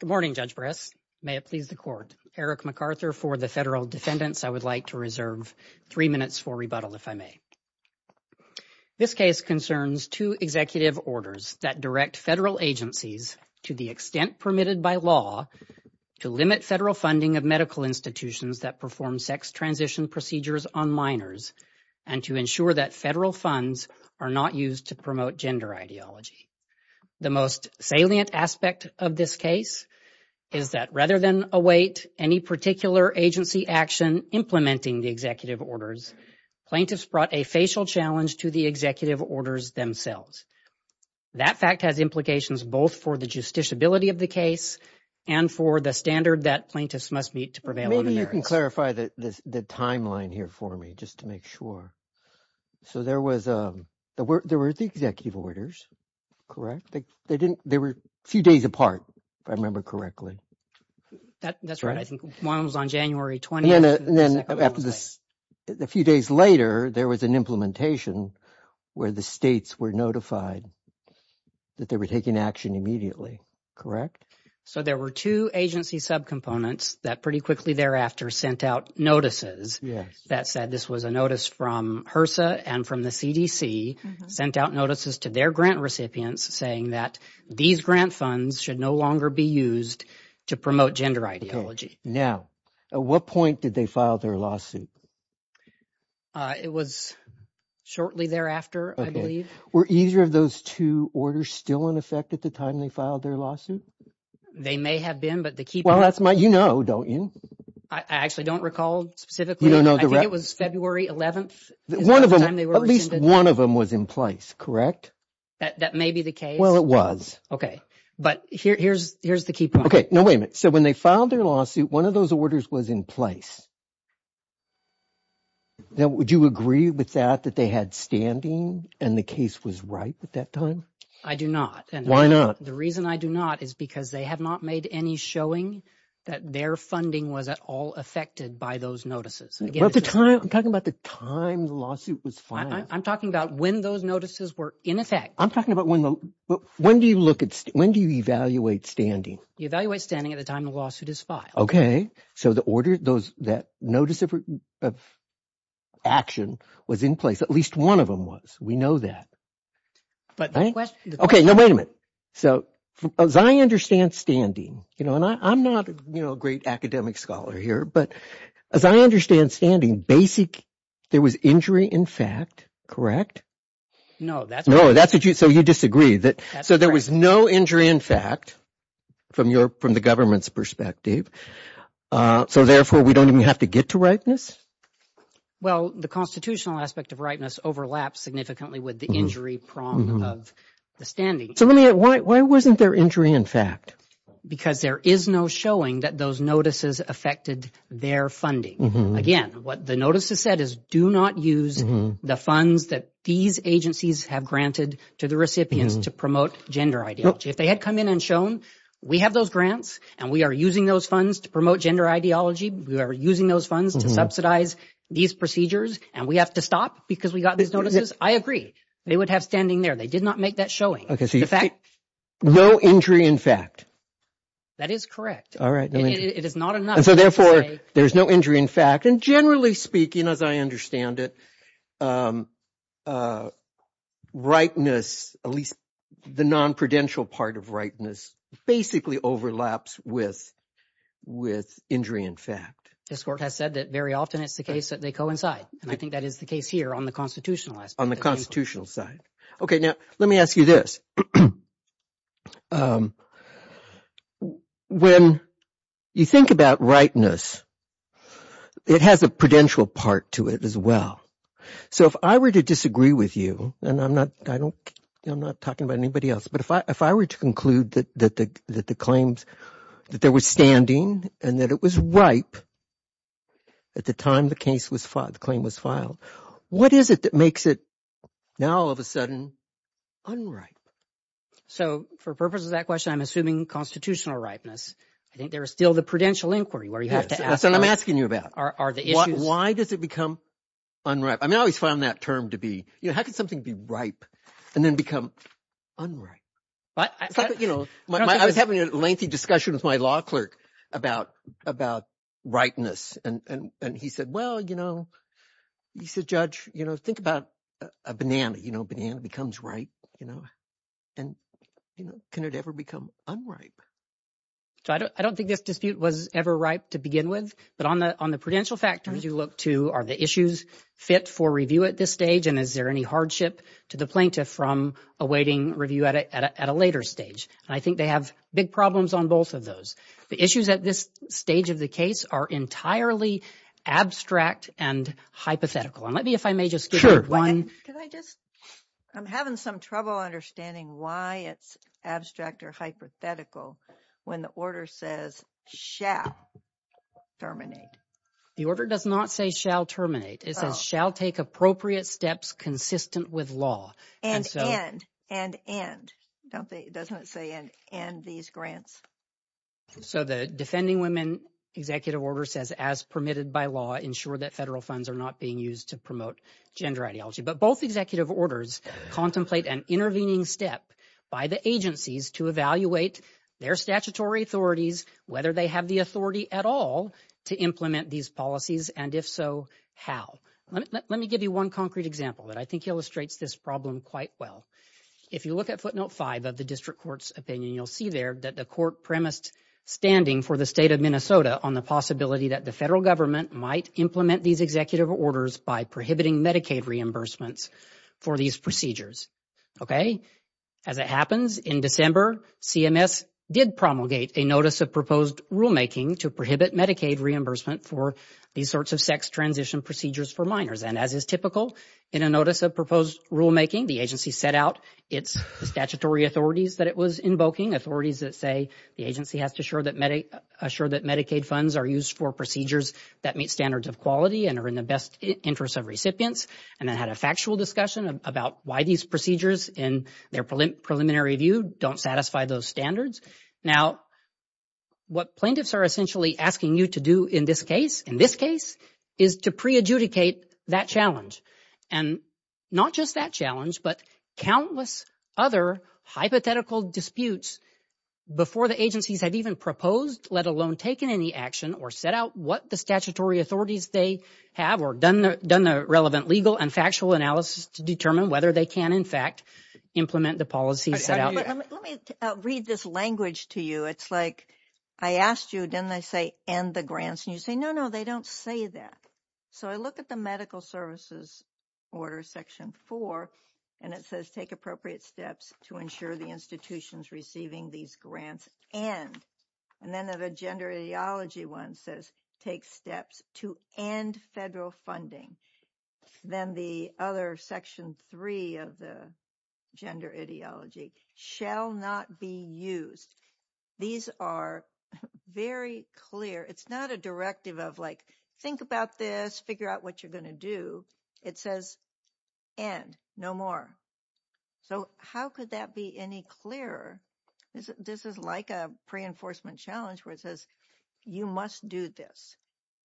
Good morning, Judge Bress. May it please the court. Eric McArthur for the federal defendants. I would like to reserve three minutes for rebuttal if I may. This case concerns two executive orders that direct federal agencies to the extent permitted by law to limit federal funding of medical institutions that perform sex transition procedures on minors and to ensure that federal funds are not used to promote gender ideology. The most salient aspect of this case is that rather than await any particular agency action implementing the executive orders, plaintiffs brought a facial challenge to the executive orders themselves. That fact has implications both for the justiciability of the case and for the standard that plaintiffs must meet to prevail on the merits. You can clarify the timeline here for me just to make sure. So there were the executive orders, correct? They were a few days apart if I remember correctly. That's right. I think one was on January 20th. And then a few days later there was an implementation where the states were notified that they were taking action immediately, correct? So there were two agency subcomponents that pretty quickly thereafter sent out notices that said this was a notice from HRSA and from the CDC, sent out notices to their grant recipients saying that these grant funds should no longer be used to promote gender ideology. Now, at what point did they file their lawsuit? It was shortly thereafter, I believe. Were either of those two orders still in effect at the time they filed their lawsuit? They may have been, but the key point – Well, that's my – you know, don't you? I actually don't recall specifically. You don't know the – I think it was February 11th is the time they were rescinded. One of them, at least one of them was in place, correct? That may be the case. Well, it was. Okay. But here's the key point. Okay. No, wait a minute. So when they filed their lawsuit, one of those orders was in place. Now, would you agree with that, that they had standing and the case was right at that time? I do not. Why not? The reason I do not is because they have not made any showing that their funding was at all affected by those notices. I'm talking about the time the lawsuit was filed. I'm talking about when those notices were in effect. I'm talking about when the – when do you look at – when do you evaluate standing? You evaluate standing at the time the lawsuit is filed. So the order – those – that notice of action was in place. At least one of them was. We know that. But the question – Okay. No, wait a minute. So as I understand standing – and I'm not a great academic scholar here. But as I understand standing, basic – there was injury in fact, correct? No, that's – No, that's what you – so you disagree. So there was no injury in fact from the government's perspective. So therefore, we don't even have to get to rightness? Well, the constitutional aspect of rightness overlaps significantly with the injury prong of the standing. So let me – why wasn't there injury in fact? Because there is no showing that those notices affected their funding. Again, what the notice has said is do not use the funds that these agencies have granted to the recipients to promote gender ideology. If they had come in and shown we have those grants and we are using those funds to promote gender ideology, we are using those funds to subsidize these procedures and we have to stop because we got these notices, I agree. They would have standing there. They did not make that showing. Okay. So you – The fact – No injury in fact. That is correct. All right. It is not enough to say – In fact, and generally speaking as I understand it, rightness, at least the non-prudential part of rightness basically overlaps with injury in fact. This court has said that very often it is the case that they coincide, and I think that is the case here on the constitutional aspect. On the constitutional side. Okay. Now let me ask you this. When you think about rightness, it has a prudential part to it as well. So if I were to disagree with you, and I am not talking about anybody else, but if I were to conclude that the claims – that there was standing and that it was ripe at the time the claim was filed, what is it that makes it now all of a sudden unripe? So for purposes of that question, I'm assuming constitutional ripeness. I think there is still the prudential inquiry where you have to ask – That's what I'm asking you about. Are the issues – Why does it become unripe? I mean I always found that term to be – how can something be ripe and then become unripe? I was having a lengthy discussion with my law clerk about ripeness, and he said, well, you know, he said, Judge, think about a banana. A banana becomes ripe, and can it ever become unripe? So I don't think this dispute was ever ripe to begin with, but on the prudential factors you look to, are the issues fit for review at this stage, and is there any hardship to the plaintiff from awaiting review at a later stage? I think they have big problems on both of those. The issues at this stage of the case are entirely abstract and hypothetical, and let me if I may just – Can I just – I'm having some trouble understanding why it's abstract or hypothetical when the order says shall terminate. The order does not say shall terminate. It says shall take appropriate steps consistent with law. And end. And end. It doesn't say end these grants. So the Defending Women Executive Order says as permitted by law, ensure that federal funds are not being used to promote gender ideology. But both executive orders contemplate an intervening step by the agencies to evaluate their statutory authorities, whether they have the authority at all to implement these policies, and if so, how. Let me give you one concrete example that I think illustrates this problem quite well. If you look at footnote 5 of the district court's opinion, you'll see there that the court premised standing for the state of Minnesota on the possibility that the federal government might implement these executive orders by prohibiting Medicaid reimbursements for these procedures. Okay? As it happens, in December, CMS did promulgate a notice of proposed rulemaking to prohibit Medicaid reimbursement for these sorts of sex transition procedures for minors. And as is typical in a notice of proposed rulemaking, the agency set out its statutory authorities that it was invoking, authorities that say the agency has to assure that Medicaid funds are used for procedures that meet standards of quality and are in the best interest of recipients. And it had a factual discussion about why these procedures, in their preliminary review, don't satisfy those standards. Now, what plaintiffs are essentially asking you to do in this case, in this case, is to pre-adjudicate that challenge. And not just that challenge, but countless other hypothetical disputes before the agencies had even proposed, let alone taken any action or set out what the statutory authorities they have or done the relevant legal and factual analysis to determine whether they can, in fact, implement the policies set out. Let me read this language to you. It's like I asked you, didn't I say, end the grants? And you say, no, no, they don't say that. So I look at the medical services order, Section 4, and it says, take appropriate steps to ensure the institutions receiving these grants end. And then the gender ideology one says, take steps to end federal funding. Then the other, Section 3 of the gender ideology, shall not be used. These are very clear. It's not a directive of like, think about this, figure out what you're going to do. It says, end, no more. So how could that be any clearer? This is like a pre-enforcement challenge where it says, you must do this.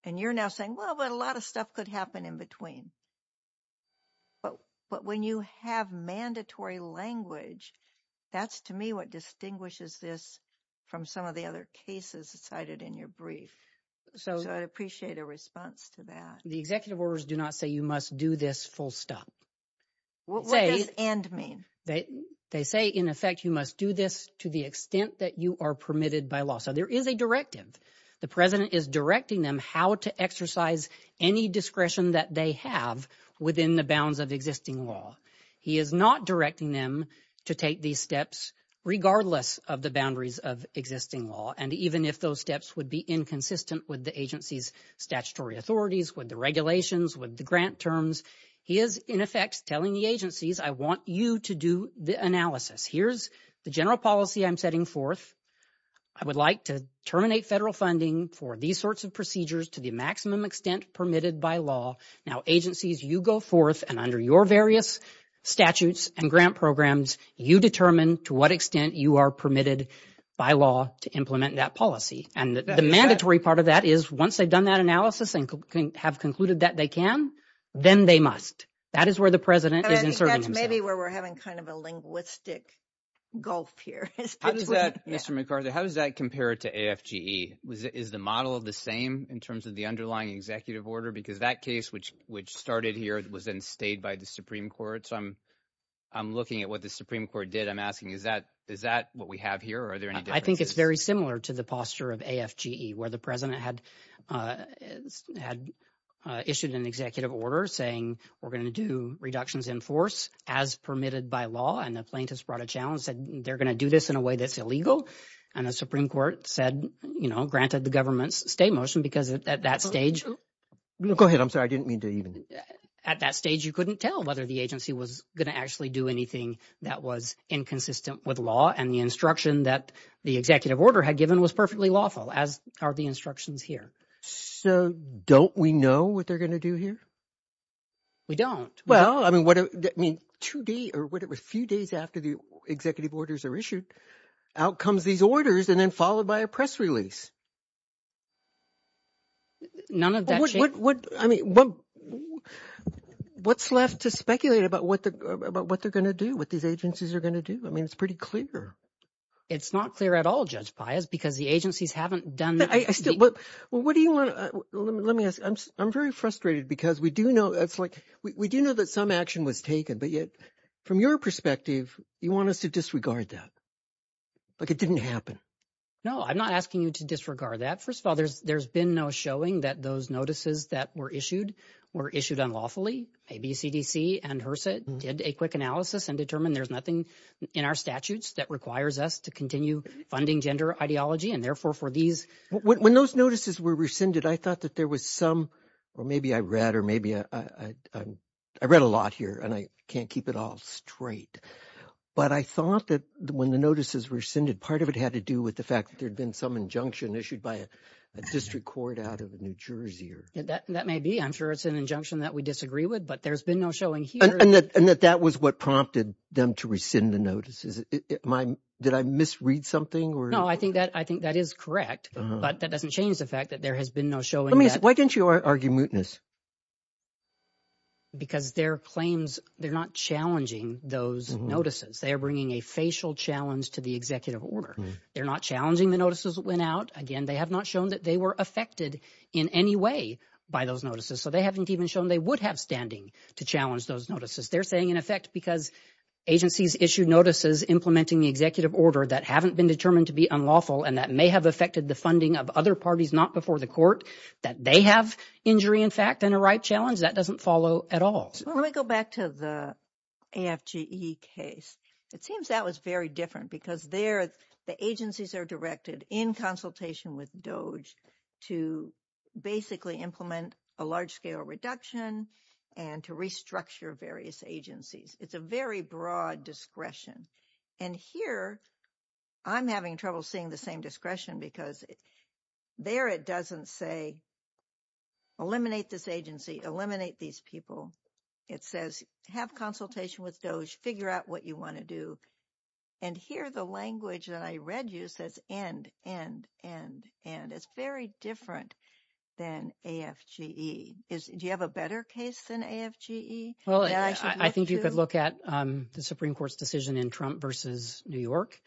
And you're now saying, well, but a lot of stuff could happen in between. But when you have mandatory language, that's to me what distinguishes this from some of the other cases cited in your brief. So I'd appreciate a response to that. The executive orders do not say you must do this full stop. What does end mean? They say, in effect, you must do this to the extent that you are permitted by law. So there is a directive. The president is directing them how to exercise any discretion that they have within the bounds of existing law. He is not directing them to take these steps regardless of the boundaries of existing law. And even if those steps would be inconsistent with the agency's statutory authorities, with the regulations, with the grant terms, he is, in effect, telling the agencies, I want you to do the analysis. Here's the general policy I'm setting forth. I would like to terminate federal funding for these sorts of procedures to the maximum extent permitted by law. Now, agencies, you go forth, and under your various statutes and grant programs, you determine to what extent you are permitted by law to implement that policy. And the mandatory part of that is once they've done that analysis and have concluded that they can, then they must. That is where the president is inserting himself. Maybe where we're having kind of a linguistic gulf here. Mr. McArthur, how does that compare to AFGE? Is the model the same in terms of the underlying executive order? Because that case, which started here, was then stayed by the Supreme Court. So I'm looking at what the Supreme Court did. I'm asking, is that what we have here, or are there any differences? I think it's very similar to the posture of AFGE, where the president had issued an executive order saying, we're going to do reductions in force as permitted by law, and the plaintiffs brought a challenge, said they're going to do this in a way that's illegal. And the Supreme Court said, you know, granted the government's stay motion because at that stage— Go ahead. I'm sorry. I didn't mean to even— At that stage, you couldn't tell whether the agency was going to actually do anything that was inconsistent with law, and the instruction that the executive order had given was perfectly lawful, as are the instructions here. So don't we know what they're going to do here? We don't. Well, I mean, two days or whatever, a few days after the executive orders are issued, out comes these orders and then followed by a press release. None of that— I mean, what's left to speculate about what they're going to do, what these agencies are going to do? I mean, it's pretty clear. It's not clear at all, Judge Pius, because the agencies haven't done— Well, what do you want—let me ask. I'm very frustrated because we do know that some action was taken, but yet from your perspective, you want us to disregard that, like it didn't happen. No, I'm not asking you to disregard that. First of all, there's been no showing that those notices that were issued were issued unlawfully. ABCDC and HRSA did a quick analysis and determined there's nothing in our statutes that requires us to continue funding gender ideology, and therefore for these— When those notices were rescinded, I thought that there was some— or maybe I read or maybe I—I read a lot here, and I can't keep it all straight, but I thought that when the notices were rescinded, part of it had to do with the fact that there had been some injunction issued by a district court out of New Jersey. That may be. I'm sure it's an injunction that we disagree with, but there's been no showing here. And that that was what prompted them to rescind the notices. Did I misread something? No, I think that is correct, but that doesn't change the fact that there has been no showing. Why didn't you argue mootness? Because their claims—they're not challenging those notices. They are bringing a facial challenge to the executive order. They're not challenging the notices that went out. Again, they have not shown that they were affected in any way by those notices, so they haven't even shown they would have standing to challenge those notices. They're saying, in effect, because agencies issued notices implementing the executive order that haven't been determined to be unlawful and that may have affected the funding of other parties not before the court, that they have injury, in fact, and a right challenge. That doesn't follow at all. Let me go back to the AFGE case. It seems that was very different because there the agencies are directed, in consultation with DOJ, to basically implement a large-scale reduction and to restructure various agencies. It's a very broad discretion. And here I'm having trouble seeing the same discretion because there it doesn't say eliminate this agency, eliminate these people. It says have consultation with DOJ, figure out what you want to do. And here the language that I read you says end, end, end, end. It's very different than AFGE. Do you have a better case than AFGE? Well, I think you could look at the Supreme Court's decision in Trump v. New York.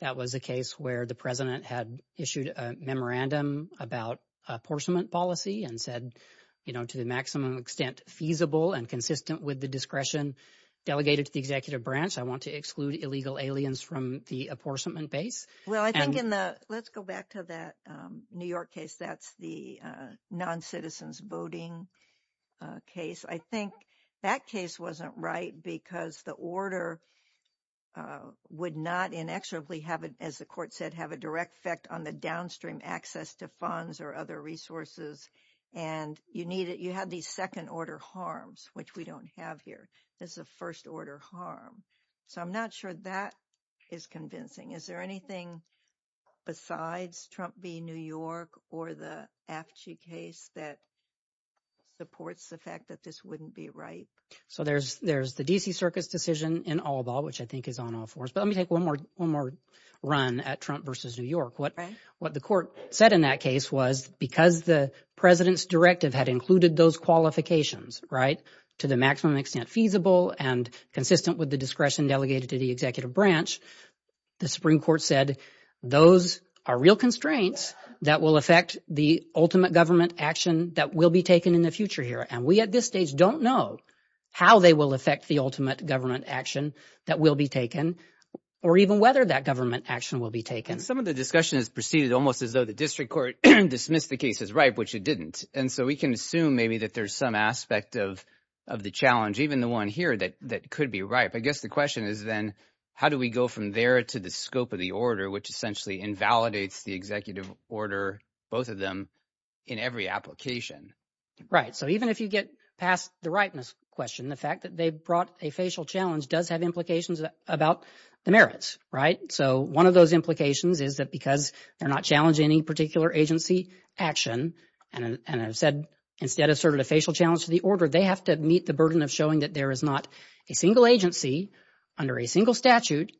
That was a case where the president had issued a memorandum about apportionment policy and said, you know, to the maximum extent feasible and consistent with the discretion delegated to the executive branch. I want to exclude illegal aliens from the apportionment base. Well, I think in the—let's go back to that New York case. That's the noncitizens voting case. I think that case wasn't right because the order would not inexorably, as the court said, have a direct effect on the downstream access to funds or other resources. And you had these second-order harms, which we don't have here. This is a first-order harm. So I'm not sure that is convincing. Is there anything besides Trump v. New York or the AFGE case that supports the fact that this wouldn't be right? So there's the D.C. Circus decision in All Ball, which I think is on all fours. But let me take one more run at Trump v. New York. What the court said in that case was because the president's directive had included those qualifications, right, to the maximum extent feasible and consistent with the discretion delegated to the executive branch, the Supreme Court said those are real constraints that will affect the ultimate government action that will be taken in the future here. And we at this stage don't know how they will affect the ultimate government action that will be taken or even whether that government action will be taken. Some of the discussion has proceeded almost as though the district court dismissed the case as ripe, which it didn't. And so we can assume maybe that there's some aspect of the challenge, even the one here, that could be ripe. I guess the question is then how do we go from there to the scope of the order, which essentially invalidates the executive order, both of them, in every application? Right. So even if you get past the ripeness question, the fact that they brought a facial challenge does have implications about the merits, right? So one of those implications is that because they're not challenging any particular agency action and have said instead asserted a facial challenge to the order, they have to meet the burden of showing that there is not a single agency under a single statute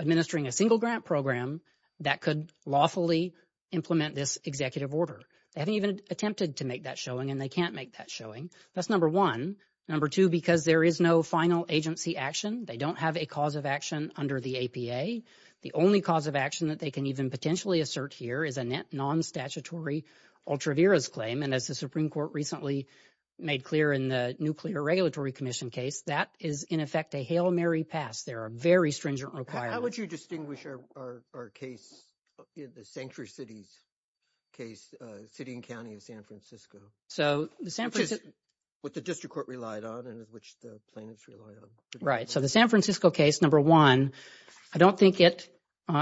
administering a single grant program that could lawfully implement this executive order. They haven't even attempted to make that showing and they can't make that showing. That's number one. Number two, because there is no final agency action, they don't have a cause of action under the APA. The only cause of action that they can even potentially assert here is a net non-statutory ultra viris claim. And as the Supreme Court recently made clear in the Nuclear Regulatory Commission case, that is, in effect, a Hail Mary pass. There are very stringent requirements. How would you distinguish our case, the Sanctuary Cities case, city and county of San Francisco, which the district court relied on and which the plaintiffs relied on? Right. So the San Francisco case, number one, I don't think it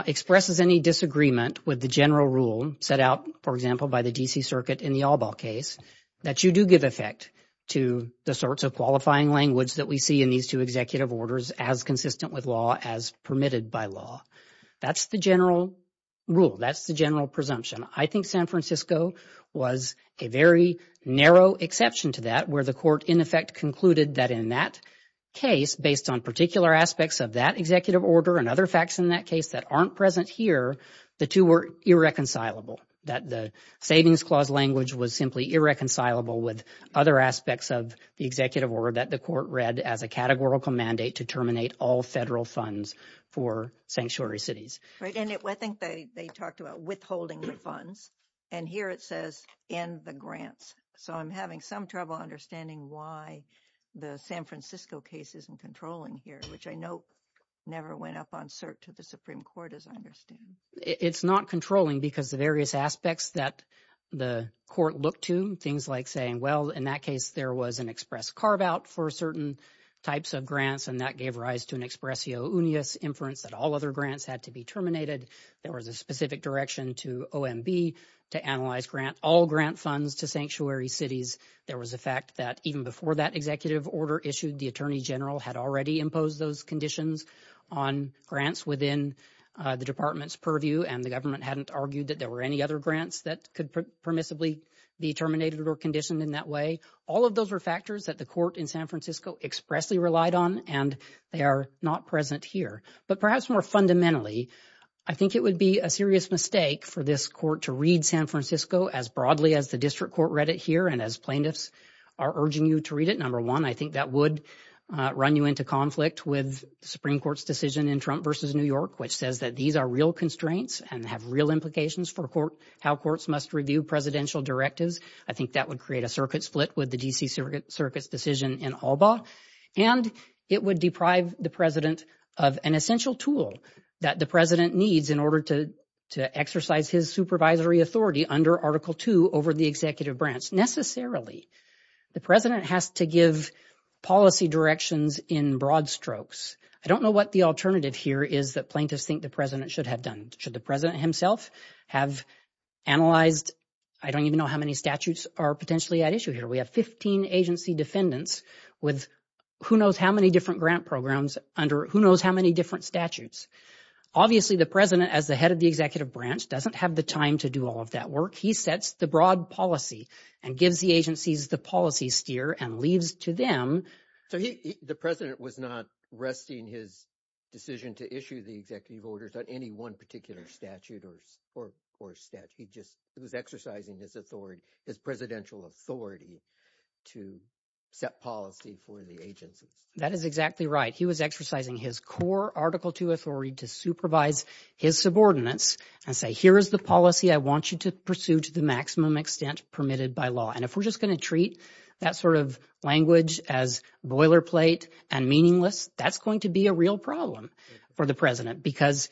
expresses any disagreement with the general rule set out, for example, by the D.C. Circuit in the Albaugh case, that you do give effect to the sorts of qualifying language that we see in these two executive orders as consistent with law, as permitted by law. That's the general rule. That's the general presumption. I think San Francisco was a very narrow exception to that, where the court, in effect, concluded that in that case, based on particular aspects of that executive order and other facts in that case that aren't present here, the two were irreconcilable, that the savings clause language was simply irreconcilable with other aspects of the executive order that the court read as a categorical mandate to terminate all federal funds for Sanctuary Cities. Right. And I think they talked about withholding the funds. And here it says, end the grants. So I'm having some trouble understanding why the San Francisco case isn't controlling here, which I know never went up on cert to the Supreme Court, as I understand. It's not controlling because the various aspects that the court looked to, things like saying, well, in that case, there was an express carve-out for certain types of grants, and that gave rise to an expressio unius inference that all other grants had to be terminated. There was a specific direction to OMB to analyze grant, all grant funds to Sanctuary Cities. There was a fact that even before that executive order issued, the attorney general had already imposed those conditions on grants within the department's purview, and the government hadn't argued that there were any other grants that could permissibly be terminated or conditioned in that way. All of those were factors that the court in San Francisco expressly relied on, and they are not present here. But perhaps more fundamentally, I think it would be a serious mistake for this court to read San Francisco as broadly as the district court read it here, and as plaintiffs are urging you to read it. Number one, I think that would run you into conflict with the Supreme Court's decision in Trump v. New York, which says that these are real constraints and have real implications for how courts must review presidential directives. I think that would create a circuit split with the D.C. Circuit's decision in ALBA, and it would deprive the president of an essential tool that the president needs in order to exercise his supervisory authority under Article II over the executive branch. The president has to give policy directions in broad strokes. I don't know what the alternative here is that plaintiffs think the president should have done. Should the president himself have analyzed... I don't even know how many statutes are potentially at issue here. We have 15 agency defendants with who knows how many different grant programs under who knows how many different statutes. Obviously, the president, as the head of the executive branch, doesn't have the time to do all of that work. He sets the broad policy and gives the agencies the policy steer and leaves to them... So the president was not resting his decision to issue the executive orders on any one particular statute or statute. He just was exercising his authority, his presidential authority to set policy for the agencies. That is exactly right. He was exercising his core Article II authority to supervise his subordinates and say, here is the policy I want you to pursue to the maximum extent permitted by law. And if we're just going to treat that sort of language as boilerplate and meaningless, that's going to be a real problem for the president because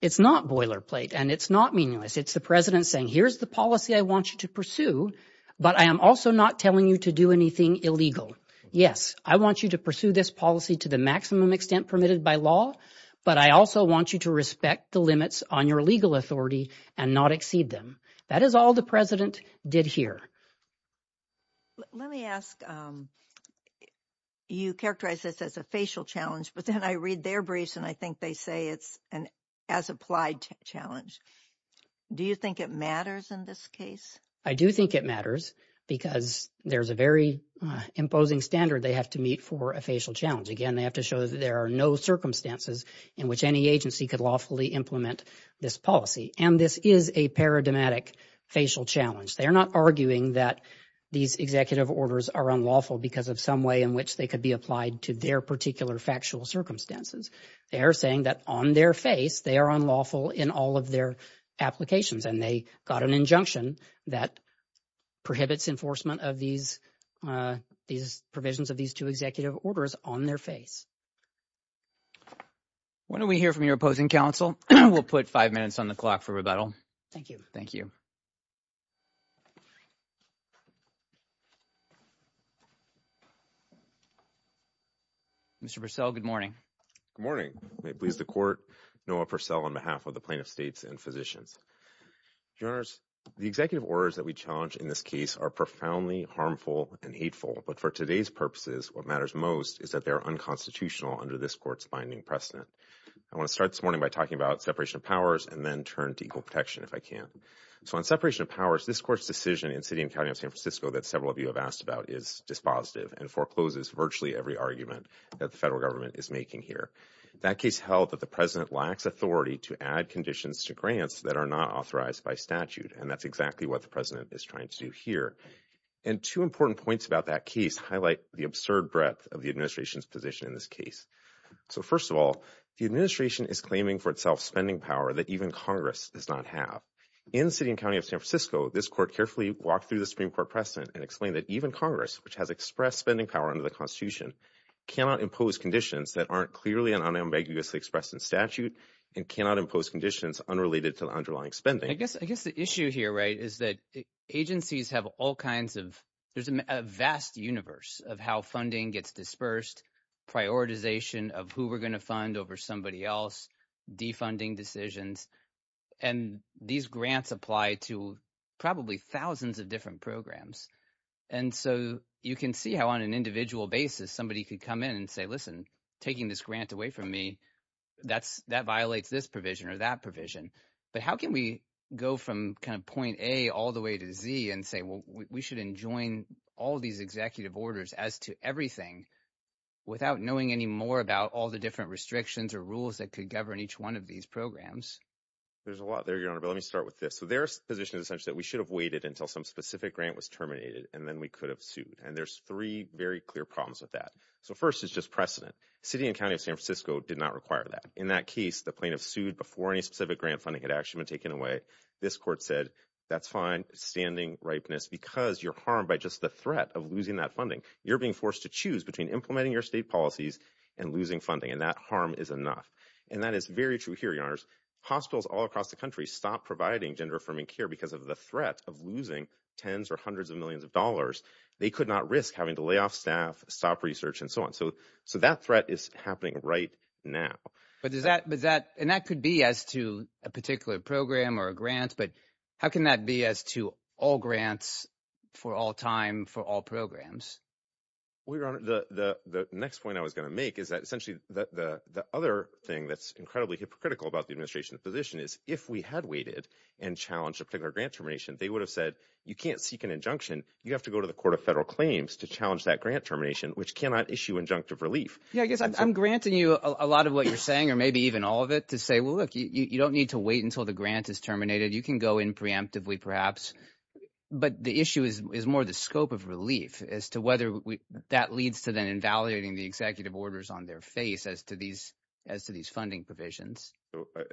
it's not boilerplate and it's not meaningless. It's the president saying, here's the policy I want you to pursue, but I am also not telling you to do anything illegal. Yes, I want you to pursue this policy to the maximum extent permitted by law, but I also want you to respect the limits on your legal authority and not exceed them. That is all the president did here. Let me ask, you characterize this as a facial challenge, but then I read their briefs and I think they say it's an as-applied challenge. Do you think it matters in this case? I do think it matters because there's a very imposing standard they have to meet for a facial challenge. Again, they have to show that there are no circumstances in which any agency could lawfully implement this policy, and this is a paradigmatic facial challenge. They are not arguing that these executive orders are unlawful because of some way in which they could be applied to their particular factual circumstances. They are saying that on their face, they are unlawful in all of their applications, and they got an injunction that prohibits enforcement of these provisions of these two executive orders on their face. Why don't we hear from your opposing counsel? We'll put five minutes on the clock for rebuttal. Thank you. Mr. Purcell, good morning. Good morning. May it please the court, Noah Purcell, on behalf of the plaintiffs' states and physicians. Your Honors, the executive orders that we challenge in this case are profoundly harmful and hateful, but for today's purposes what matters most is that they are unconstitutional under this Court's binding precedent. I want to start this morning by talking about separation of powers and then turn to equal protection if I can. So on separation of powers, this Court's decision in the city and county of San Francisco that several of you have asked about is dispositive and forecloses virtually every argument that the federal government is making here. That case held that the President lacks authority to add conditions to grants that are not authorized by statute, and that's exactly what the President is trying to do here. And two important points about that case highlight the absurd breadth of the administration's position in this case. So first of all, the administration is claiming for itself spending power that even Congress does not have. In the city and county of San Francisco, this Court carefully walked through the Supreme Court precedent and explained that even Congress, which has expressed spending power under the Constitution, cannot impose conditions that aren't clearly and unambiguously expressed in statute and cannot impose conditions unrelated to the underlying spending. I guess the issue here, right, is that agencies have all kinds of— there's a vast universe of how funding gets dispersed, prioritization of who we're going to fund over somebody else, defunding decisions, and these grants apply to probably thousands of different programs. And so you can see how on an individual basis somebody could come in and say, listen, taking this grant away from me, that violates this provision or that provision. But how can we go from kind of point A all the way to Z and say, well, we should enjoin all these executive orders as to everything without knowing any more about all the different restrictions or rules that could govern each one of these programs? There's a lot there, Your Honor, but let me start with this. So their position is essentially that we should have waited until some specific grant was terminated, and then we could have sued. And there's three very clear problems with that. So first is just precedent. City and county of San Francisco did not require that. In that case, the plaintiff sued before any specific grant funding had actually been taken away. This court said, that's fine, standing ripeness, because you're harmed by just the threat of losing that funding. You're being forced to choose between implementing your state policies and losing funding, and that harm is enough. And that is very true here, Your Honors. Hospitals all across the country stop providing gender-affirming care because of the threat of losing tens or hundreds of millions of dollars. They could not risk having to lay off staff, stop research, and so on. So that threat is happening right now. And that could be as to a particular program or a grant, but how can that be as to all grants for all time for all programs? Well, Your Honor, the next point I was going to make is that essentially the other thing that's incredibly hypocritical about the administration's position is if we had waited and challenged a particular grant termination, they would have said, you can't seek an injunction. You have to go to the Court of Federal Claims to challenge that grant termination, which cannot issue injunctive relief. Yeah, I guess I'm granting you a lot of what you're saying or maybe even all of it to say, well, look, you don't need to wait until the grant is terminated. You can go in preemptively perhaps, but the issue is more the scope of relief as to whether that leads to then invalidating the executive orders on their face as to these funding provisions.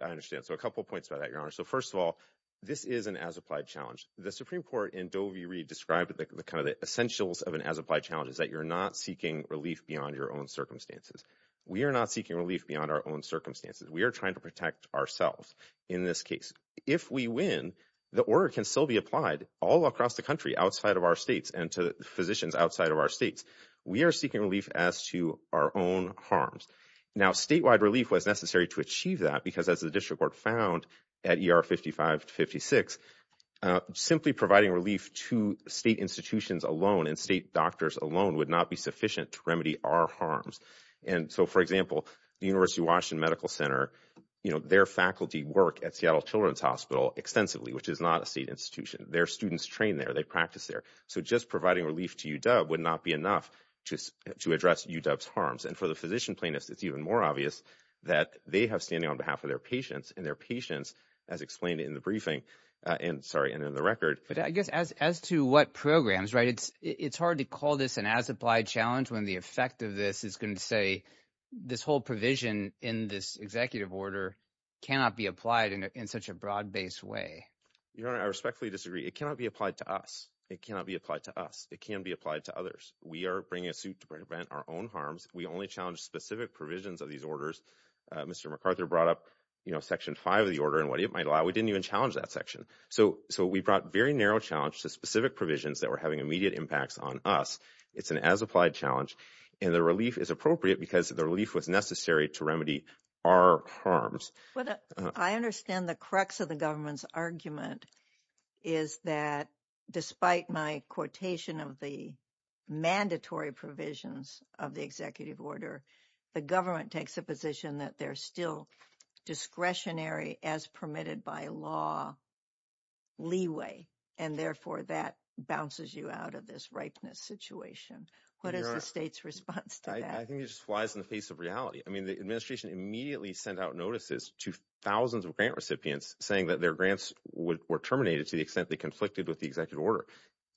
I understand. So a couple of points about that, Your Honor. So first of all, this is an as-applied challenge. The Supreme Court in Doe v. Reed described kind of the essentials of an as-applied challenge is that you're not seeking relief beyond your own circumstances. We are not seeking relief beyond our own circumstances. We are trying to protect ourselves in this case. If we win, the order can still be applied all across the country outside of our states and to physicians outside of our states. We are seeking relief as to our own harms. Now, statewide relief was necessary to achieve that because as the district court found at ER 55-56, simply providing relief to state institutions alone and state doctors alone would not be sufficient to remedy our harms. And so, for example, the University of Washington Medical Center, their faculty work at Seattle Children's Hospital extensively, which is not a state institution. Their students train there. They practice there. So just providing relief to UW would not be enough to address UW's harms. And for the physician plaintiffs, it's even more obvious that they have standing on behalf of their patients, as explained in the briefing and in the record. But I guess as to what programs, right, it's hard to call this an as-applied challenge when the effect of this is going to say this whole provision in this executive order cannot be applied in such a broad-based way. Your Honor, I respectfully disagree. It cannot be applied to us. It cannot be applied to us. It can be applied to others. We are bringing a suit to prevent our own harms. We only challenge specific provisions of these orders. Mr. McArthur brought up, you know, Section 5 of the order and what it might allow. We didn't even challenge that section. So we brought very narrow challenge to specific provisions that were having immediate impacts on us. It's an as-applied challenge, and the relief is appropriate because the relief was necessary to remedy our harms. I understand the crux of the government's argument is that despite my quotation of the mandatory provisions of the executive order, the government takes a position that they're still discretionary as permitted by law leeway, and therefore that bounces you out of this ripeness situation. What is the state's response to that? I think it just flies in the face of reality. I mean, the administration immediately sent out notices to thousands of grant recipients saying that their grants were terminated to the extent they conflicted with the executive order.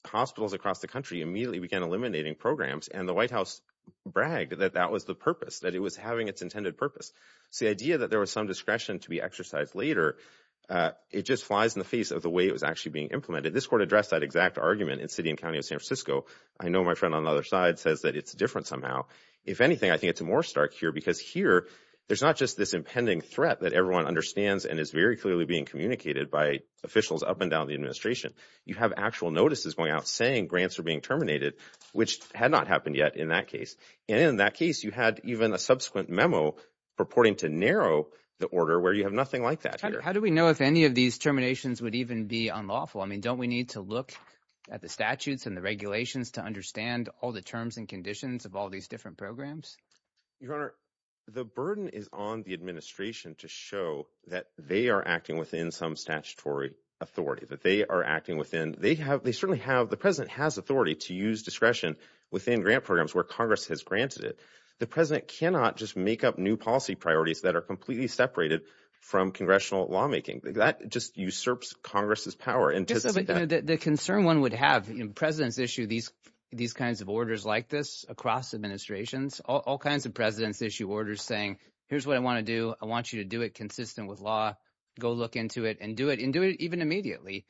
Hospitals across the country immediately began eliminating programs, and the White House bragged that that was the purpose, that it was having its intended purpose. So the idea that there was some discretion to be exercised later, it just flies in the face of the way it was actually being implemented. This court addressed that exact argument in the city and county of San Francisco. I know my friend on the other side says that it's different somehow. If anything, I think it's more stark here because here there's not just this impending threat that everyone understands and is very clearly being communicated by officials up and down the administration. You have actual notices going out saying grants are being terminated, which had not happened yet in that case. And in that case, you had even a subsequent memo purporting to narrow the order where you have nothing like that here. How do we know if any of these terminations would even be unlawful? I mean, don't we need to look at the statutes and the regulations to understand all the terms and conditions of all these different programs? Your Honor, the burden is on the administration to show that they are acting within some statutory authority, that they are acting within... The president has authority to use discretion within grant programs where Congress has granted it. The president cannot just make up new policy priorities that are completely separated from congressional lawmaking. That just usurps Congress's power. The concern one would have, presidents issue these kinds of orders like this across administrations. All kinds of presidents issue orders saying, here's what I want to do, I want you to do it consistent with law. Go look into it and do it, and do it even immediately.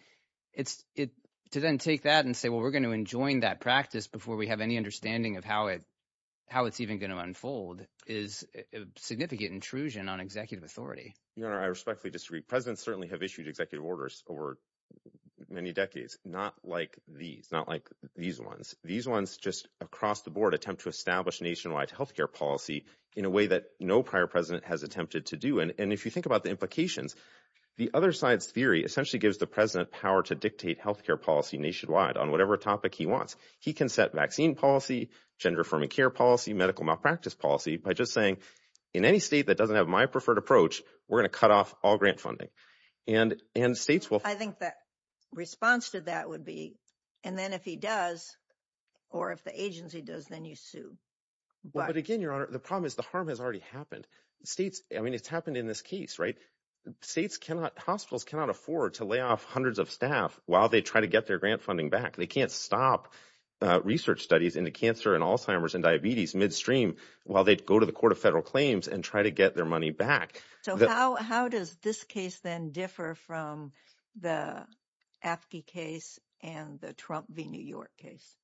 To then take that and say, well, we're going to enjoin that practice before we have any understanding of how it's even going to unfold is a significant intrusion on executive authority. Your Honor, I respectfully disagree. Presidents certainly have issued executive orders over many decades, not like these, not like these ones. These ones just across the board attempt to establish nationwide health care policy in a way that no prior president has attempted to do. And if you think about the implications, the other side's theory essentially gives the president power to dictate health care policy nationwide on whatever topic he wants. He can set vaccine policy, gender-affirming care policy, medical malpractice policy by just saying, in any state that doesn't have my preferred approach, we're going to cut off all grant funding. I think the response to that would be, and then if he does, or if the agency does, then you sue. But again, Your Honor, the problem is the harm has already happened. States, I mean, it's happened in this case, right? States cannot, hospitals cannot afford to lay off hundreds of staff while they try to get their grant funding back. They can't stop research studies into cancer and Alzheimer's and diabetes midstream while they go to the Court of Federal Claims and try to get their money back. So how does this case then differ from the AFSCME case and the Trump v. New York case?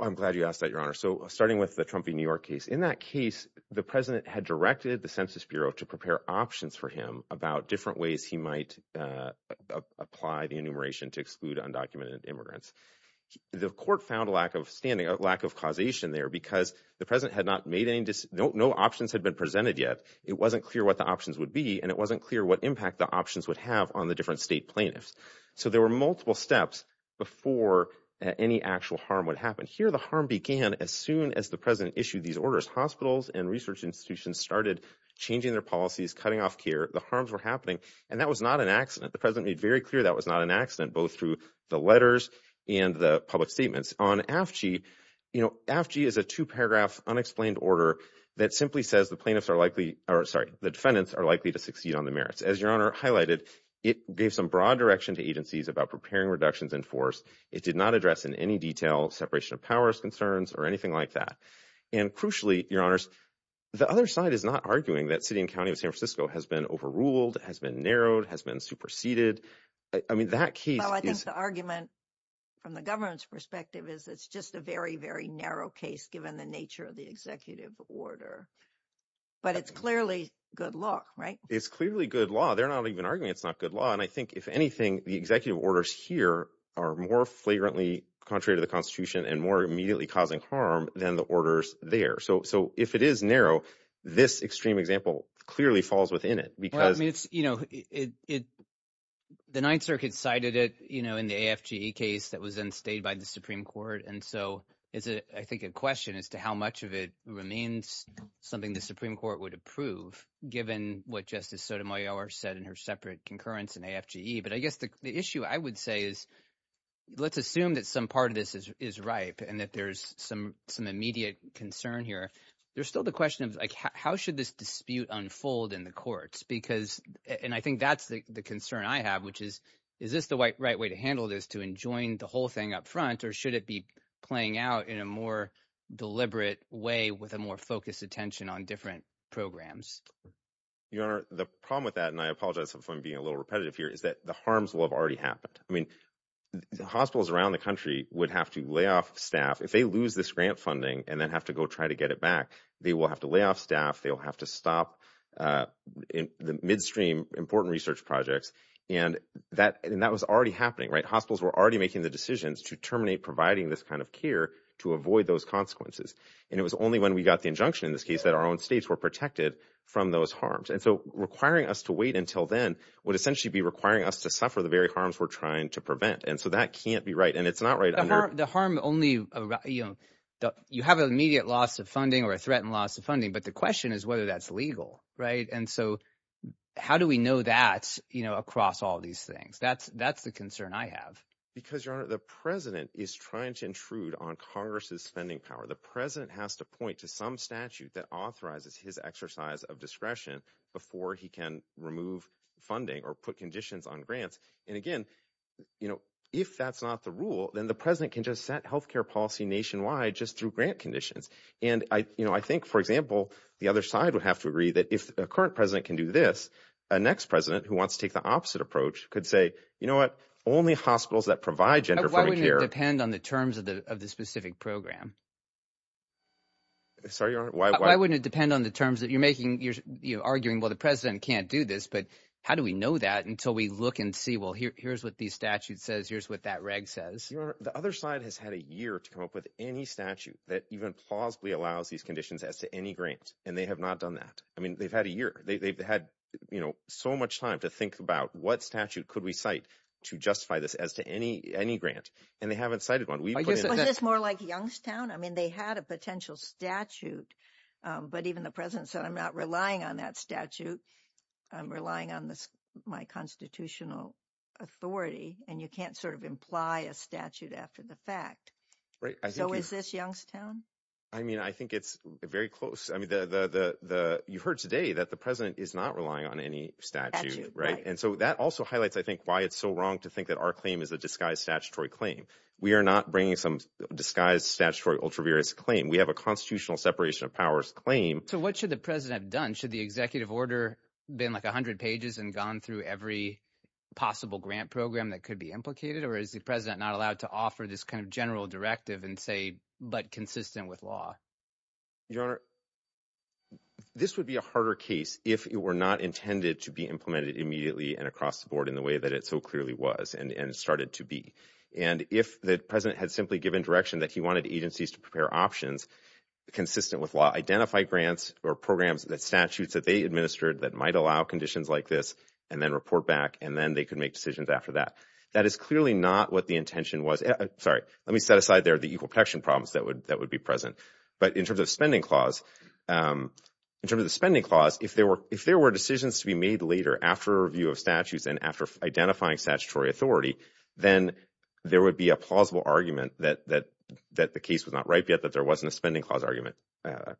I'm glad you asked that, Your Honor. So starting with the Trump v. New York case, in that case the president had directed the Census Bureau to prepare options for him about different ways he might apply the enumeration to exclude undocumented immigrants. The court found a lack of standing, a lack of causation there, because the president had not made any decisions, no options had been presented yet. It wasn't clear what the options would be, and it wasn't clear what impact the options would have on the different state plaintiffs. So there were multiple steps before any actual harm would happen. Here the harm began as soon as the president issued these orders. Hospitals and research institutions started changing their policies, cutting off care, the harms were happening, and that was not an accident. The president made very clear that was not an accident, both through the letters and the public statements. On AFG, you know, AFG is a two-paragraph unexplained order that simply says the plaintiffs are likely, or sorry, the defendants are likely to succeed on the merits. As Your Honor highlighted, it gave some broad direction to agencies about preparing reductions in force. It did not address in any detail separation of powers concerns or anything like that. And crucially, Your Honors, the other side is not arguing that city and county of San Francisco has been overruled, has been narrowed, has been superseded. I mean, that case is... Well, I think the argument from the government's perspective is it's just a very, very narrow case given the nature of the executive order. But it's clearly good law, right? It's clearly good law. They're not even arguing it's not good law, and I think, if anything, the executive orders here are more flagrantly contrary to the Constitution and more immediately causing harm than the orders there. So if it is narrow, this extreme example clearly falls within it because... Well, I mean, it's, you know, it... The Ninth Circuit cited it, you know, in the AFGE case that was then stayed by the Supreme Court, and so it's, I think, a question as to how much of it remains something the Supreme Court would approve given what Justice Sotomayor said in her separate concurrence in AFGE. But I guess the issue, I would say, is... Let's assume that some part of this is ripe and that there's some immediate concern here. There's still the question of, like, how should this dispute unfold in the courts? Because... And I think that's the concern I have, which is, is this the right way to handle this, to enjoin the whole thing up front, or should it be playing out in a more deliberate way with a more focused attention on different programs? Your Honor, the problem with that, and I apologize if I'm being a little repetitive here, is that the harms will have already happened. I mean, hospitals around the country would have to lay off staff. If they lose this grant funding and then have to go try to get it back, they will have to lay off staff, they will have to stop the midstream important research projects. And that was already happening, right? Hospitals were already making the decisions to terminate providing this kind of care to avoid those consequences. And it was only when we got the injunction in this case that our own states were protected from those harms. And so requiring us to wait until then would essentially be requiring us to suffer the very harms we're trying to prevent. And so that can't be right, and it's not right... The harm only... You have an immediate loss of funding or a threatened loss of funding, but the question is whether that's legal, right? And so how do we know that, you know, across all these things? That's the concern I have. Because, Your Honor, the president is trying to intrude on Congress's spending power. The president has to point to some statute that authorizes his exercise of discretion before he can remove funding or put conditions on grants. And again, you know, if that's not the rule, then the president can just set healthcare policy nationwide just through grant conditions. And, you know, I think, for example, the other side would have to agree that if a current president can do this, a next president who wants to take the opposite approach could say, you know what, only hospitals that provide gender-friendly care... Why wouldn't it depend on the terms of the specific program? Sorry, Your Honor? Why wouldn't it depend on the terms that you're making? You're arguing, well, the president can't do this, but how do we know that until we look and see, well, here's what the statute says, here's what that reg says? Your Honor, the other side has had a year to come up with any statute that even plausibly allows these conditions as to any grant, and they have not done that. I mean, they've had a year. They've had, you know, so much time to think about what statute could we cite to justify this as to any grant, and they haven't cited one. Wasn't this more like Youngstown? I mean, they had a potential statute, but even the president said, I'm not relying on that statute. I'm relying on my constitutional authority, and you can't sort of imply a statute after the fact. Right. So is this Youngstown? I mean, I think it's very close. I mean, you heard today that the president is not relying on any statute, right? And so that also highlights, I think, why it's so wrong to think that our claim is a disguised statutory claim. We are not bringing some disguised statutory ultraviarious claim. We have a constitutional separation of powers claim. So what should the president have done? Should the executive order have been like 100 pages and gone through every possible grant program that could be implicated, or is the president not allowed to offer this kind of general directive and say, but consistent with law? Your Honor, this would be a harder case if it were not intended to be implemented immediately and across the board in the way that it so clearly was and started to be. And if the president had simply given direction that he wanted agencies to prepare options consistent with law, identify grants or programs that statutes that they administered that might allow conditions like this, and then report back, and then they could make decisions after that. That is clearly not what the intention was. Sorry. Let me set aside there the equal protection problems that would be present. But in terms of the spending clause, if there were decisions to be made later after review of statutes and after identifying statutory authority, then there would be a plausible argument that the case was not ripe yet, that there wasn't a spending clause argument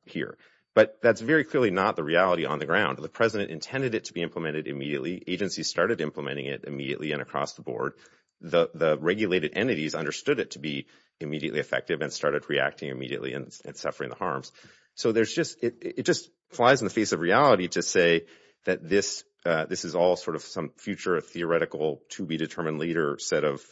here. But that's very clearly not the reality on the ground. The president intended it to be implemented immediately. Agencies started implementing it immediately and across the board. The regulated entities understood it to be immediately effective and started reacting immediately and suffering the harms. So it just flies in the face of reality to say that this is all sort of some future theoretical to-be-determined later set of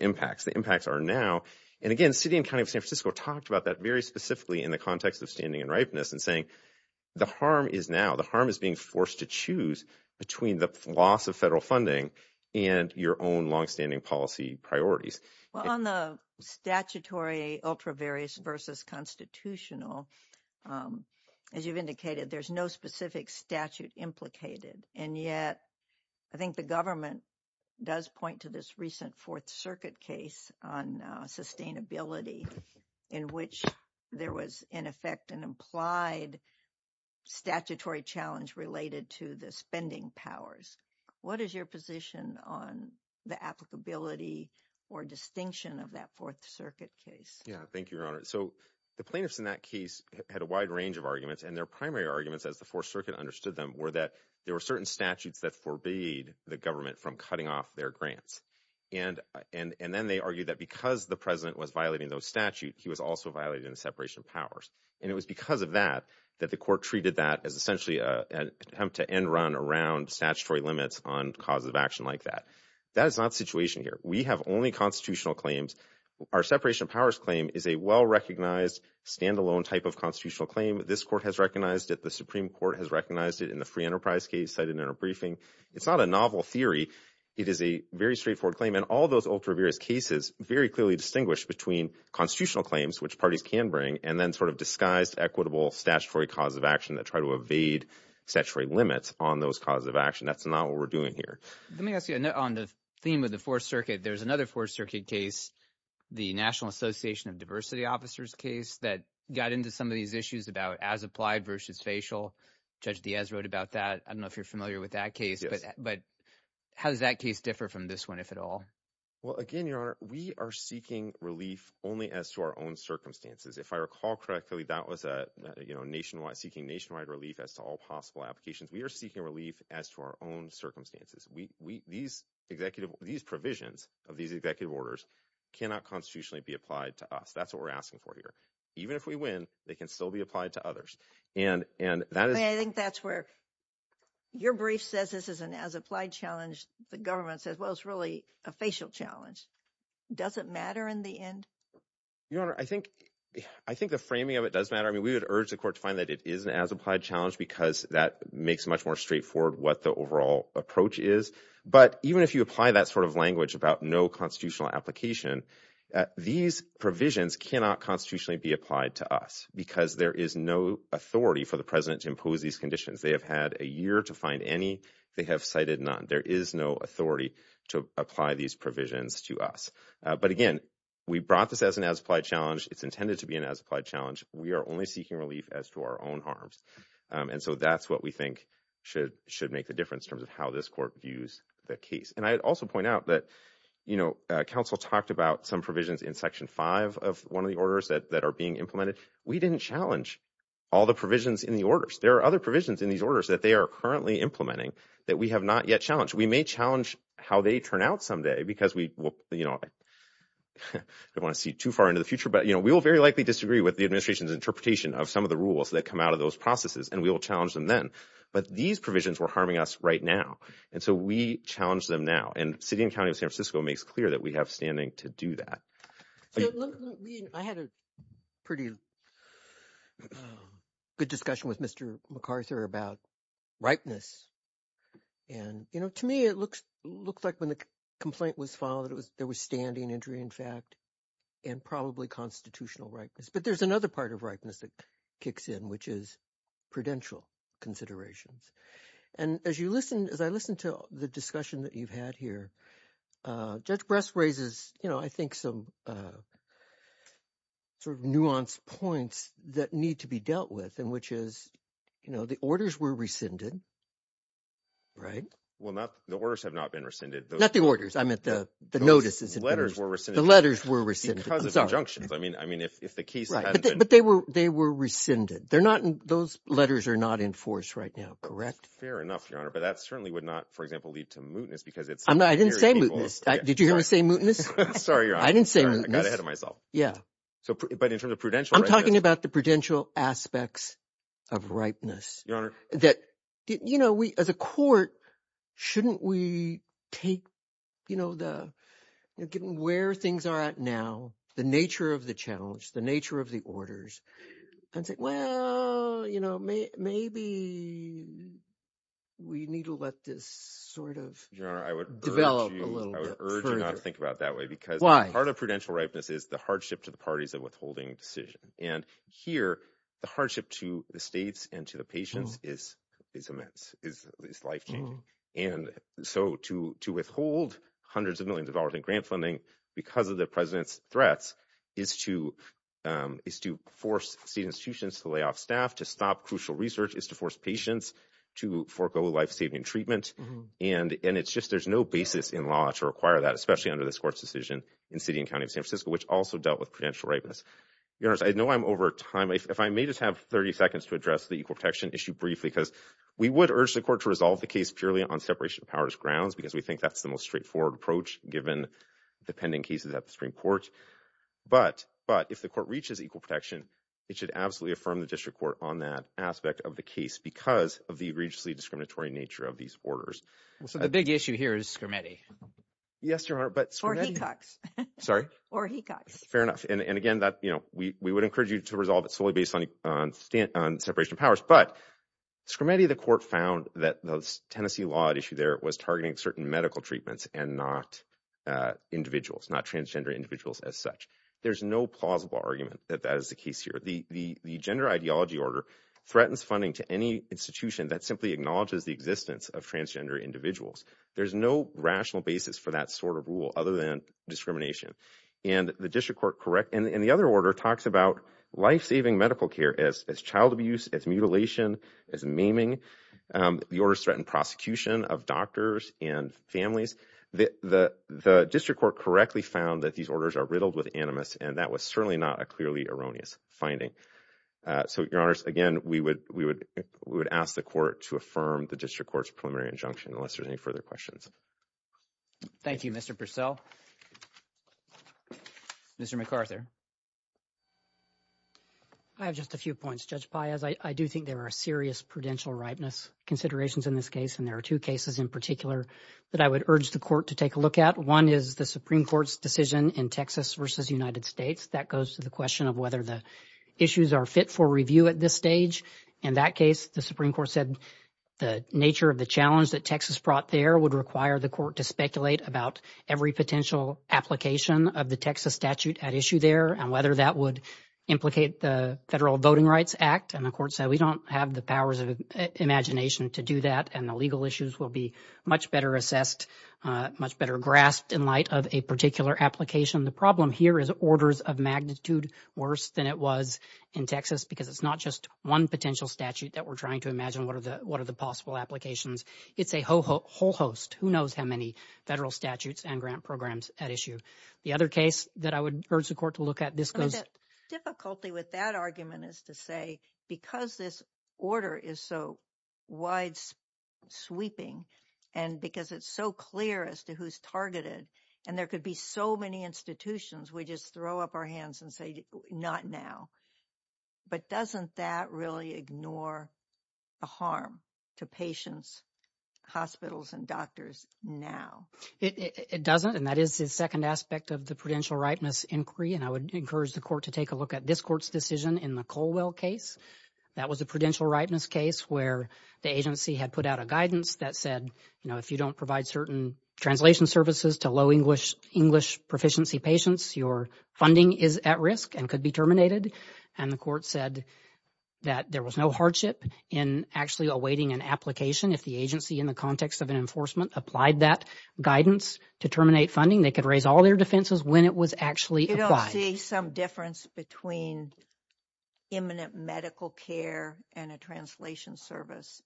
impacts. The impacts are now. And again, city and county of San Francisco talked about that very specifically in the context of standing and ripeness and saying the harm is now. The harm is being forced to choose between the loss of federal funding and your own long-standing policy priorities. On the statutory ultra various versus constitutional, as you've indicated, there's no specific statute implicated. And yet, I think the government does point to this recent Fourth Circuit case on sustainability in which there was, in effect, an implied statutory challenge related to the spending powers. What is your position on the applicability or distinction of that Fourth Circuit case? Thank you, Your Honor. So, the plaintiffs in that case had a wide range of arguments, and their primary arguments, as the Fourth Circuit understood them, were that there were certain statutes that forbade the government from cutting off their grants. And then they argued that because the president was violating those statutes, he was also violating the separation of powers. And it was because of that that the court treated that as essentially an attempt to end run around statutory limits on causes of action like that. That is not the situation here. We have only constitutional claims. Our separation of powers claim is a well-recognized, stand-alone type of constitutional claim. This court has recognized it. The Supreme Court has recognized it in the Free Enterprise case cited in our briefing. It's not a novel theory. It is a very straightforward claim. And all those ultra-various cases very clearly distinguish between constitutional claims, which parties can bring, and then sort of disguised, equitable statutory cause of action that try to evade statutory limits on those causes of action. That's not what we're doing here. Let me ask you, on the theme of the Fourth Circuit, there's another Fourth Circuit case, the National Association of Diversity Officers case, that got into some of these issues about as applied versus facial. Judge Diaz wrote about that. I don't know if you're familiar with that case, but how does that case differ from this one, if at all? Well, again, Your Honor, we are seeking relief only as to our own circumstances. If I recall correctly, that was seeking nationwide relief as to all possible applications. We are seeking relief as to our own circumstances. These provisions of these executive orders cannot constitutionally be applied to us. That's what we're asking for here. Even if we win, they can still be applied to others. I think that's where your brief says this is an as-applied challenge. The government says, well, it's really a facial challenge. Does it matter in the end? Your Honor, I think the framing of it does matter. I mean, we would urge the Court to find that it is an as-applied challenge because that makes much more straightforward what the overall approach is. But even if you apply that sort of language about no constitutional application, these provisions cannot constitutionally be applied to us because there is no authority for the President to impose these conditions. They have had a year to find any. They have cited none. There is no authority to apply these provisions to us. But again, we brought this as an as-applied challenge. It's intended to be an as-applied challenge. We are only seeking relief as to our own harms. And so that's what we think should make the difference in terms of how this Court views the case. And I'd also point out that Council talked about some provisions in Section 5 of one of the orders that are being implemented. We didn't challenge all the provisions in the orders. There are other provisions in these orders that they are currently implementing that we have not yet challenged. We may challenge how they turn out someday because we don't want to see too far into the future. But we will very likely disagree with the Administration's interpretation of some of the rules that come out of those processes and we will challenge them then. But these provisions were harming us right now. And so we challenge them now. And the City and County of San Francisco makes clear that we have standing to do that. I had a pretty discussion with Mr. McArthur about ripeness. And, you know, to me it looks like when the complaint was filed there was standing injury, in fact, and probably constitutional ripeness. But there's another part of ripeness that kicks in, which is prudential considerations. And as I listen to the discussion that you've had here, Judge Bress raises, you know, I think some sort of nuanced points that need to be dealt with, and which is, you know, the orders were rescinded, right? Well, the orders have not been rescinded. Not the orders. I meant the notices. The letters were rescinded. Because of injunctions. I mean, if the case hadn't been... But they were rescinded. Those letters are not enforced right now, correct? Fair enough, Your Honor. But that certainly would not, for example, lead to mootness because it's... I didn't say mootness. Did you hear me say mootness? Sorry, Your Honor. I didn't say mootness. I got ahead of myself. But in terms of prudential... I'm talking about the prudential aspects of ripeness. You know, as a court, shouldn't we take, you know, where things are at now, the nature of the challenge, the nature of the orders, and say, well, you know, maybe we need to let this sort of develop a little bit further. I would urge you not to think about it that way. Why? Because part of prudential ripeness is the hardship to the parties of withholding decision. And here, the hardship to the states and to the patients is immense, is life-changing. And so to withhold hundreds of millions of dollars in grant funding because of the President's threats is to force state institutions to lay off staff, to stop crucial research, is to force patients to forego life-saving treatment. And it's just there's no basis in law to require that, especially under this Court's decision in City and County of San Francisco, which also dealt with prudential ripeness. I know I'm over time. If I may just have 30 seconds to address the equal protection issue briefly, because we would urge the Court to resolve the case purely on separation of powers grounds because we think that's the most straightforward approach given the pending cases at the Supreme Court. But if the Court reaches equal protection, it should absolutely affirm the District Court on that aspect of the case because of the egregiously discriminatory nature of these orders. The big issue here is Or Hecox. Fair enough. And again, we would encourage you to resolve it solely based on separation of powers. But Scrimeti, the Court found that the Tennessee law at issue there was targeting certain medical treatments and not individuals, not transgender individuals as such. There's no plausible argument that that is the case here. The gender ideology order threatens funding to any institution that simply acknowledges the existence of transgender individuals. There's no rational basis for that sort of rule other than discrimination. And the other order talks about life-saving medical care as child abuse, as mutilation, as maiming. The orders threaten prosecution of doctors and families. The District Court correctly found that these orders are riddled with animus, and that was certainly not a clearly erroneous finding. So, Your Honors, again, we would ask the Court to affirm the District Court's preliminary injunction unless there's any further questions. Thank you, Mr. Purcell. Mr. McArthur. I have just a few points, Judge Payaz. I do think there are serious prudential rightness considerations in this case, and there are two cases in particular that I would urge the Court to take a look at. One is the Supreme Court's decision in Texas v. United States. That goes to the question of whether the issues are fit for review at this stage. In that case, the Supreme Court said the nature of the challenge that Texas brought there would require the Court to speculate about every potential application of the Texas statute at issue there, and whether that would implicate the Federal Voting Rights Act. And the Court said we don't have the powers of imagination to do that, and the legal issues will be much better assessed, much better grasped in light of a particular application. The problem here is orders of magnitude worse than it was in Texas because it's not just one potential statute that we're trying to imagine what are the possible applications. It's a whole host. Who knows how many federal statutes and grant programs at issue. The other case that I would urge the Court to look at, this goes... The difficulty with that argument is to say because this order is so wide-sweeping, and because it's so clear as to who's targeted, and there could be so many institutions, we just throw up our hands and say not now. But doesn't that really ignore the harm to patients, hospitals, and doctors now? It doesn't, and that is the second aspect of the prudential ripeness inquiry, and I would encourage the Court to take a look at this Court's decision in the Colwell case. That was a prudential ripeness case where the agency had put out a guidance that said, you know, if you don't provide certain translation services to low English English proficiency patients, your funding is at risk and could be terminated, and the Court said that there was no hardship in actually awaiting an application if the agency in the context of an enforcement applied that guidance to terminate funding. They could raise all their defenses when it was actually applied. You don't see some difference between imminent medical care and a translation service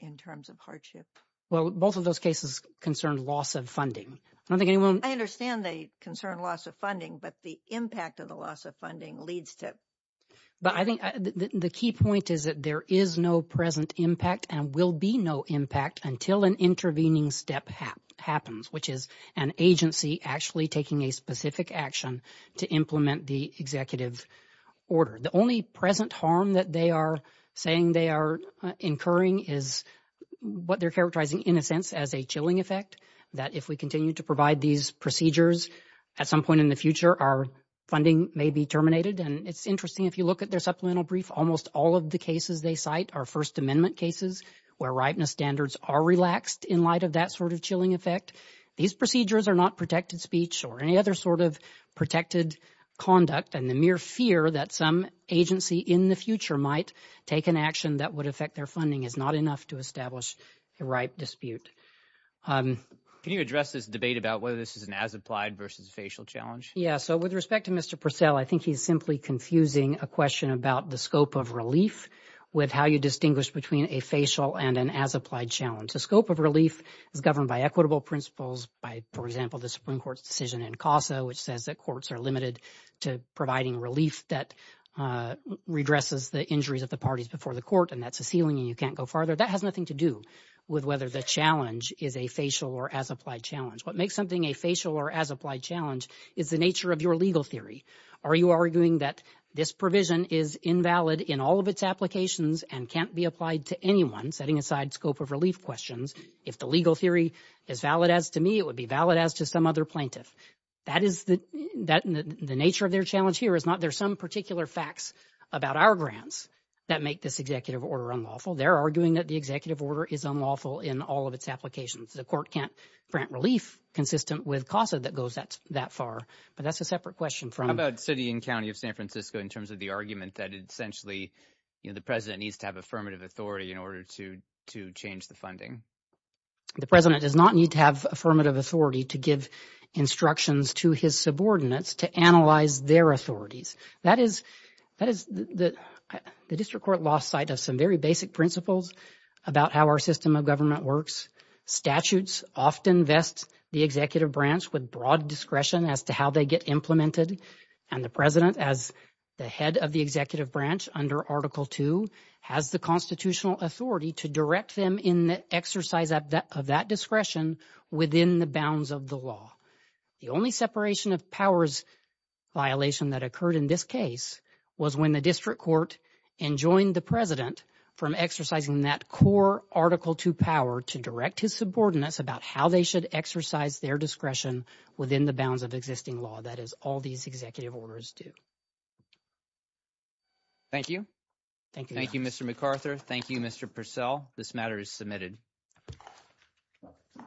in terms of hardship? Well, both of those cases concerned loss of funding. I don't think anyone... I understand they concern loss of funding, but the impact of the loss of funding leads to... The key point is that there is no present impact and will be no impact until an intervening step happens, which is an agency actually taking a specific action to implement the executive order. The only present harm that they are saying they are incurring is what they're characterizing in a sense as a chilling effect, that if we continue to provide these procedures at some point in the future, our funding may be terminated. And it's interesting, if you look at their supplemental brief, almost all of the cases they cite are First Amendment cases where ripeness standards are relaxed in light of that sort of chilling effect. These procedures are not protected speech or any other sort of protected conduct, and the mere fear that some agency in the future might take an action that would affect their funding is not enough to establish a ripe dispute. Can you address this debate about whether this is an as-applied versus a facial challenge? With respect to Mr. Purcell, I think he's simply confusing a question about the scope of relief with how you distinguish between a facial and an as-applied challenge. The scope of relief is governed by equitable principles by, for example, the Supreme Court's decision in CASA, which says that courts are limited to providing relief that redresses the injuries of the parties before the court, and that's a ceiling and you can't go farther. That has nothing to do with whether the challenge is a facial or as-applied challenge. What makes something a facial or as-applied challenge is the nature of your legal theory. Are you arguing that this provision is invalid in all of its applications and can't be applied to anyone, setting aside scope of relief questions? If the legal theory is valid as to me, it would be valid as to some other plaintiff. The nature of their challenge here is not there's some particular facts about our grants that make this executive order unlawful. They're arguing that the executive order is unlawful in all of its applications. The court can't grant relief consistent with CASA that goes that far, but that's a separate question. How about city and county of San Francisco in terms of the argument that essentially the president needs to have affirmative authority in order to change the funding? The president does not need to have affirmative authority to give instructions to his subordinates to analyze their authorities. That is the district court lost sight of some very basic principles about how our system of government works. Statutes often vest the executive branch with broad discretion as to how they get implemented, and the president, as the head of the executive branch under Article II, has the constitutional authority to direct them in the exercise of that discretion within the bounds of the law. The only separation of powers violation that occurred in this case was when the district court enjoined the president from exercising that core Article II power to direct his subordinates about how they should exercise their discretion within the bounds of existing law. That is all these executive orders do. Thank you. Thank you, Mr. McArthur. Thank you, Mr. Purcell. This matter is submitted.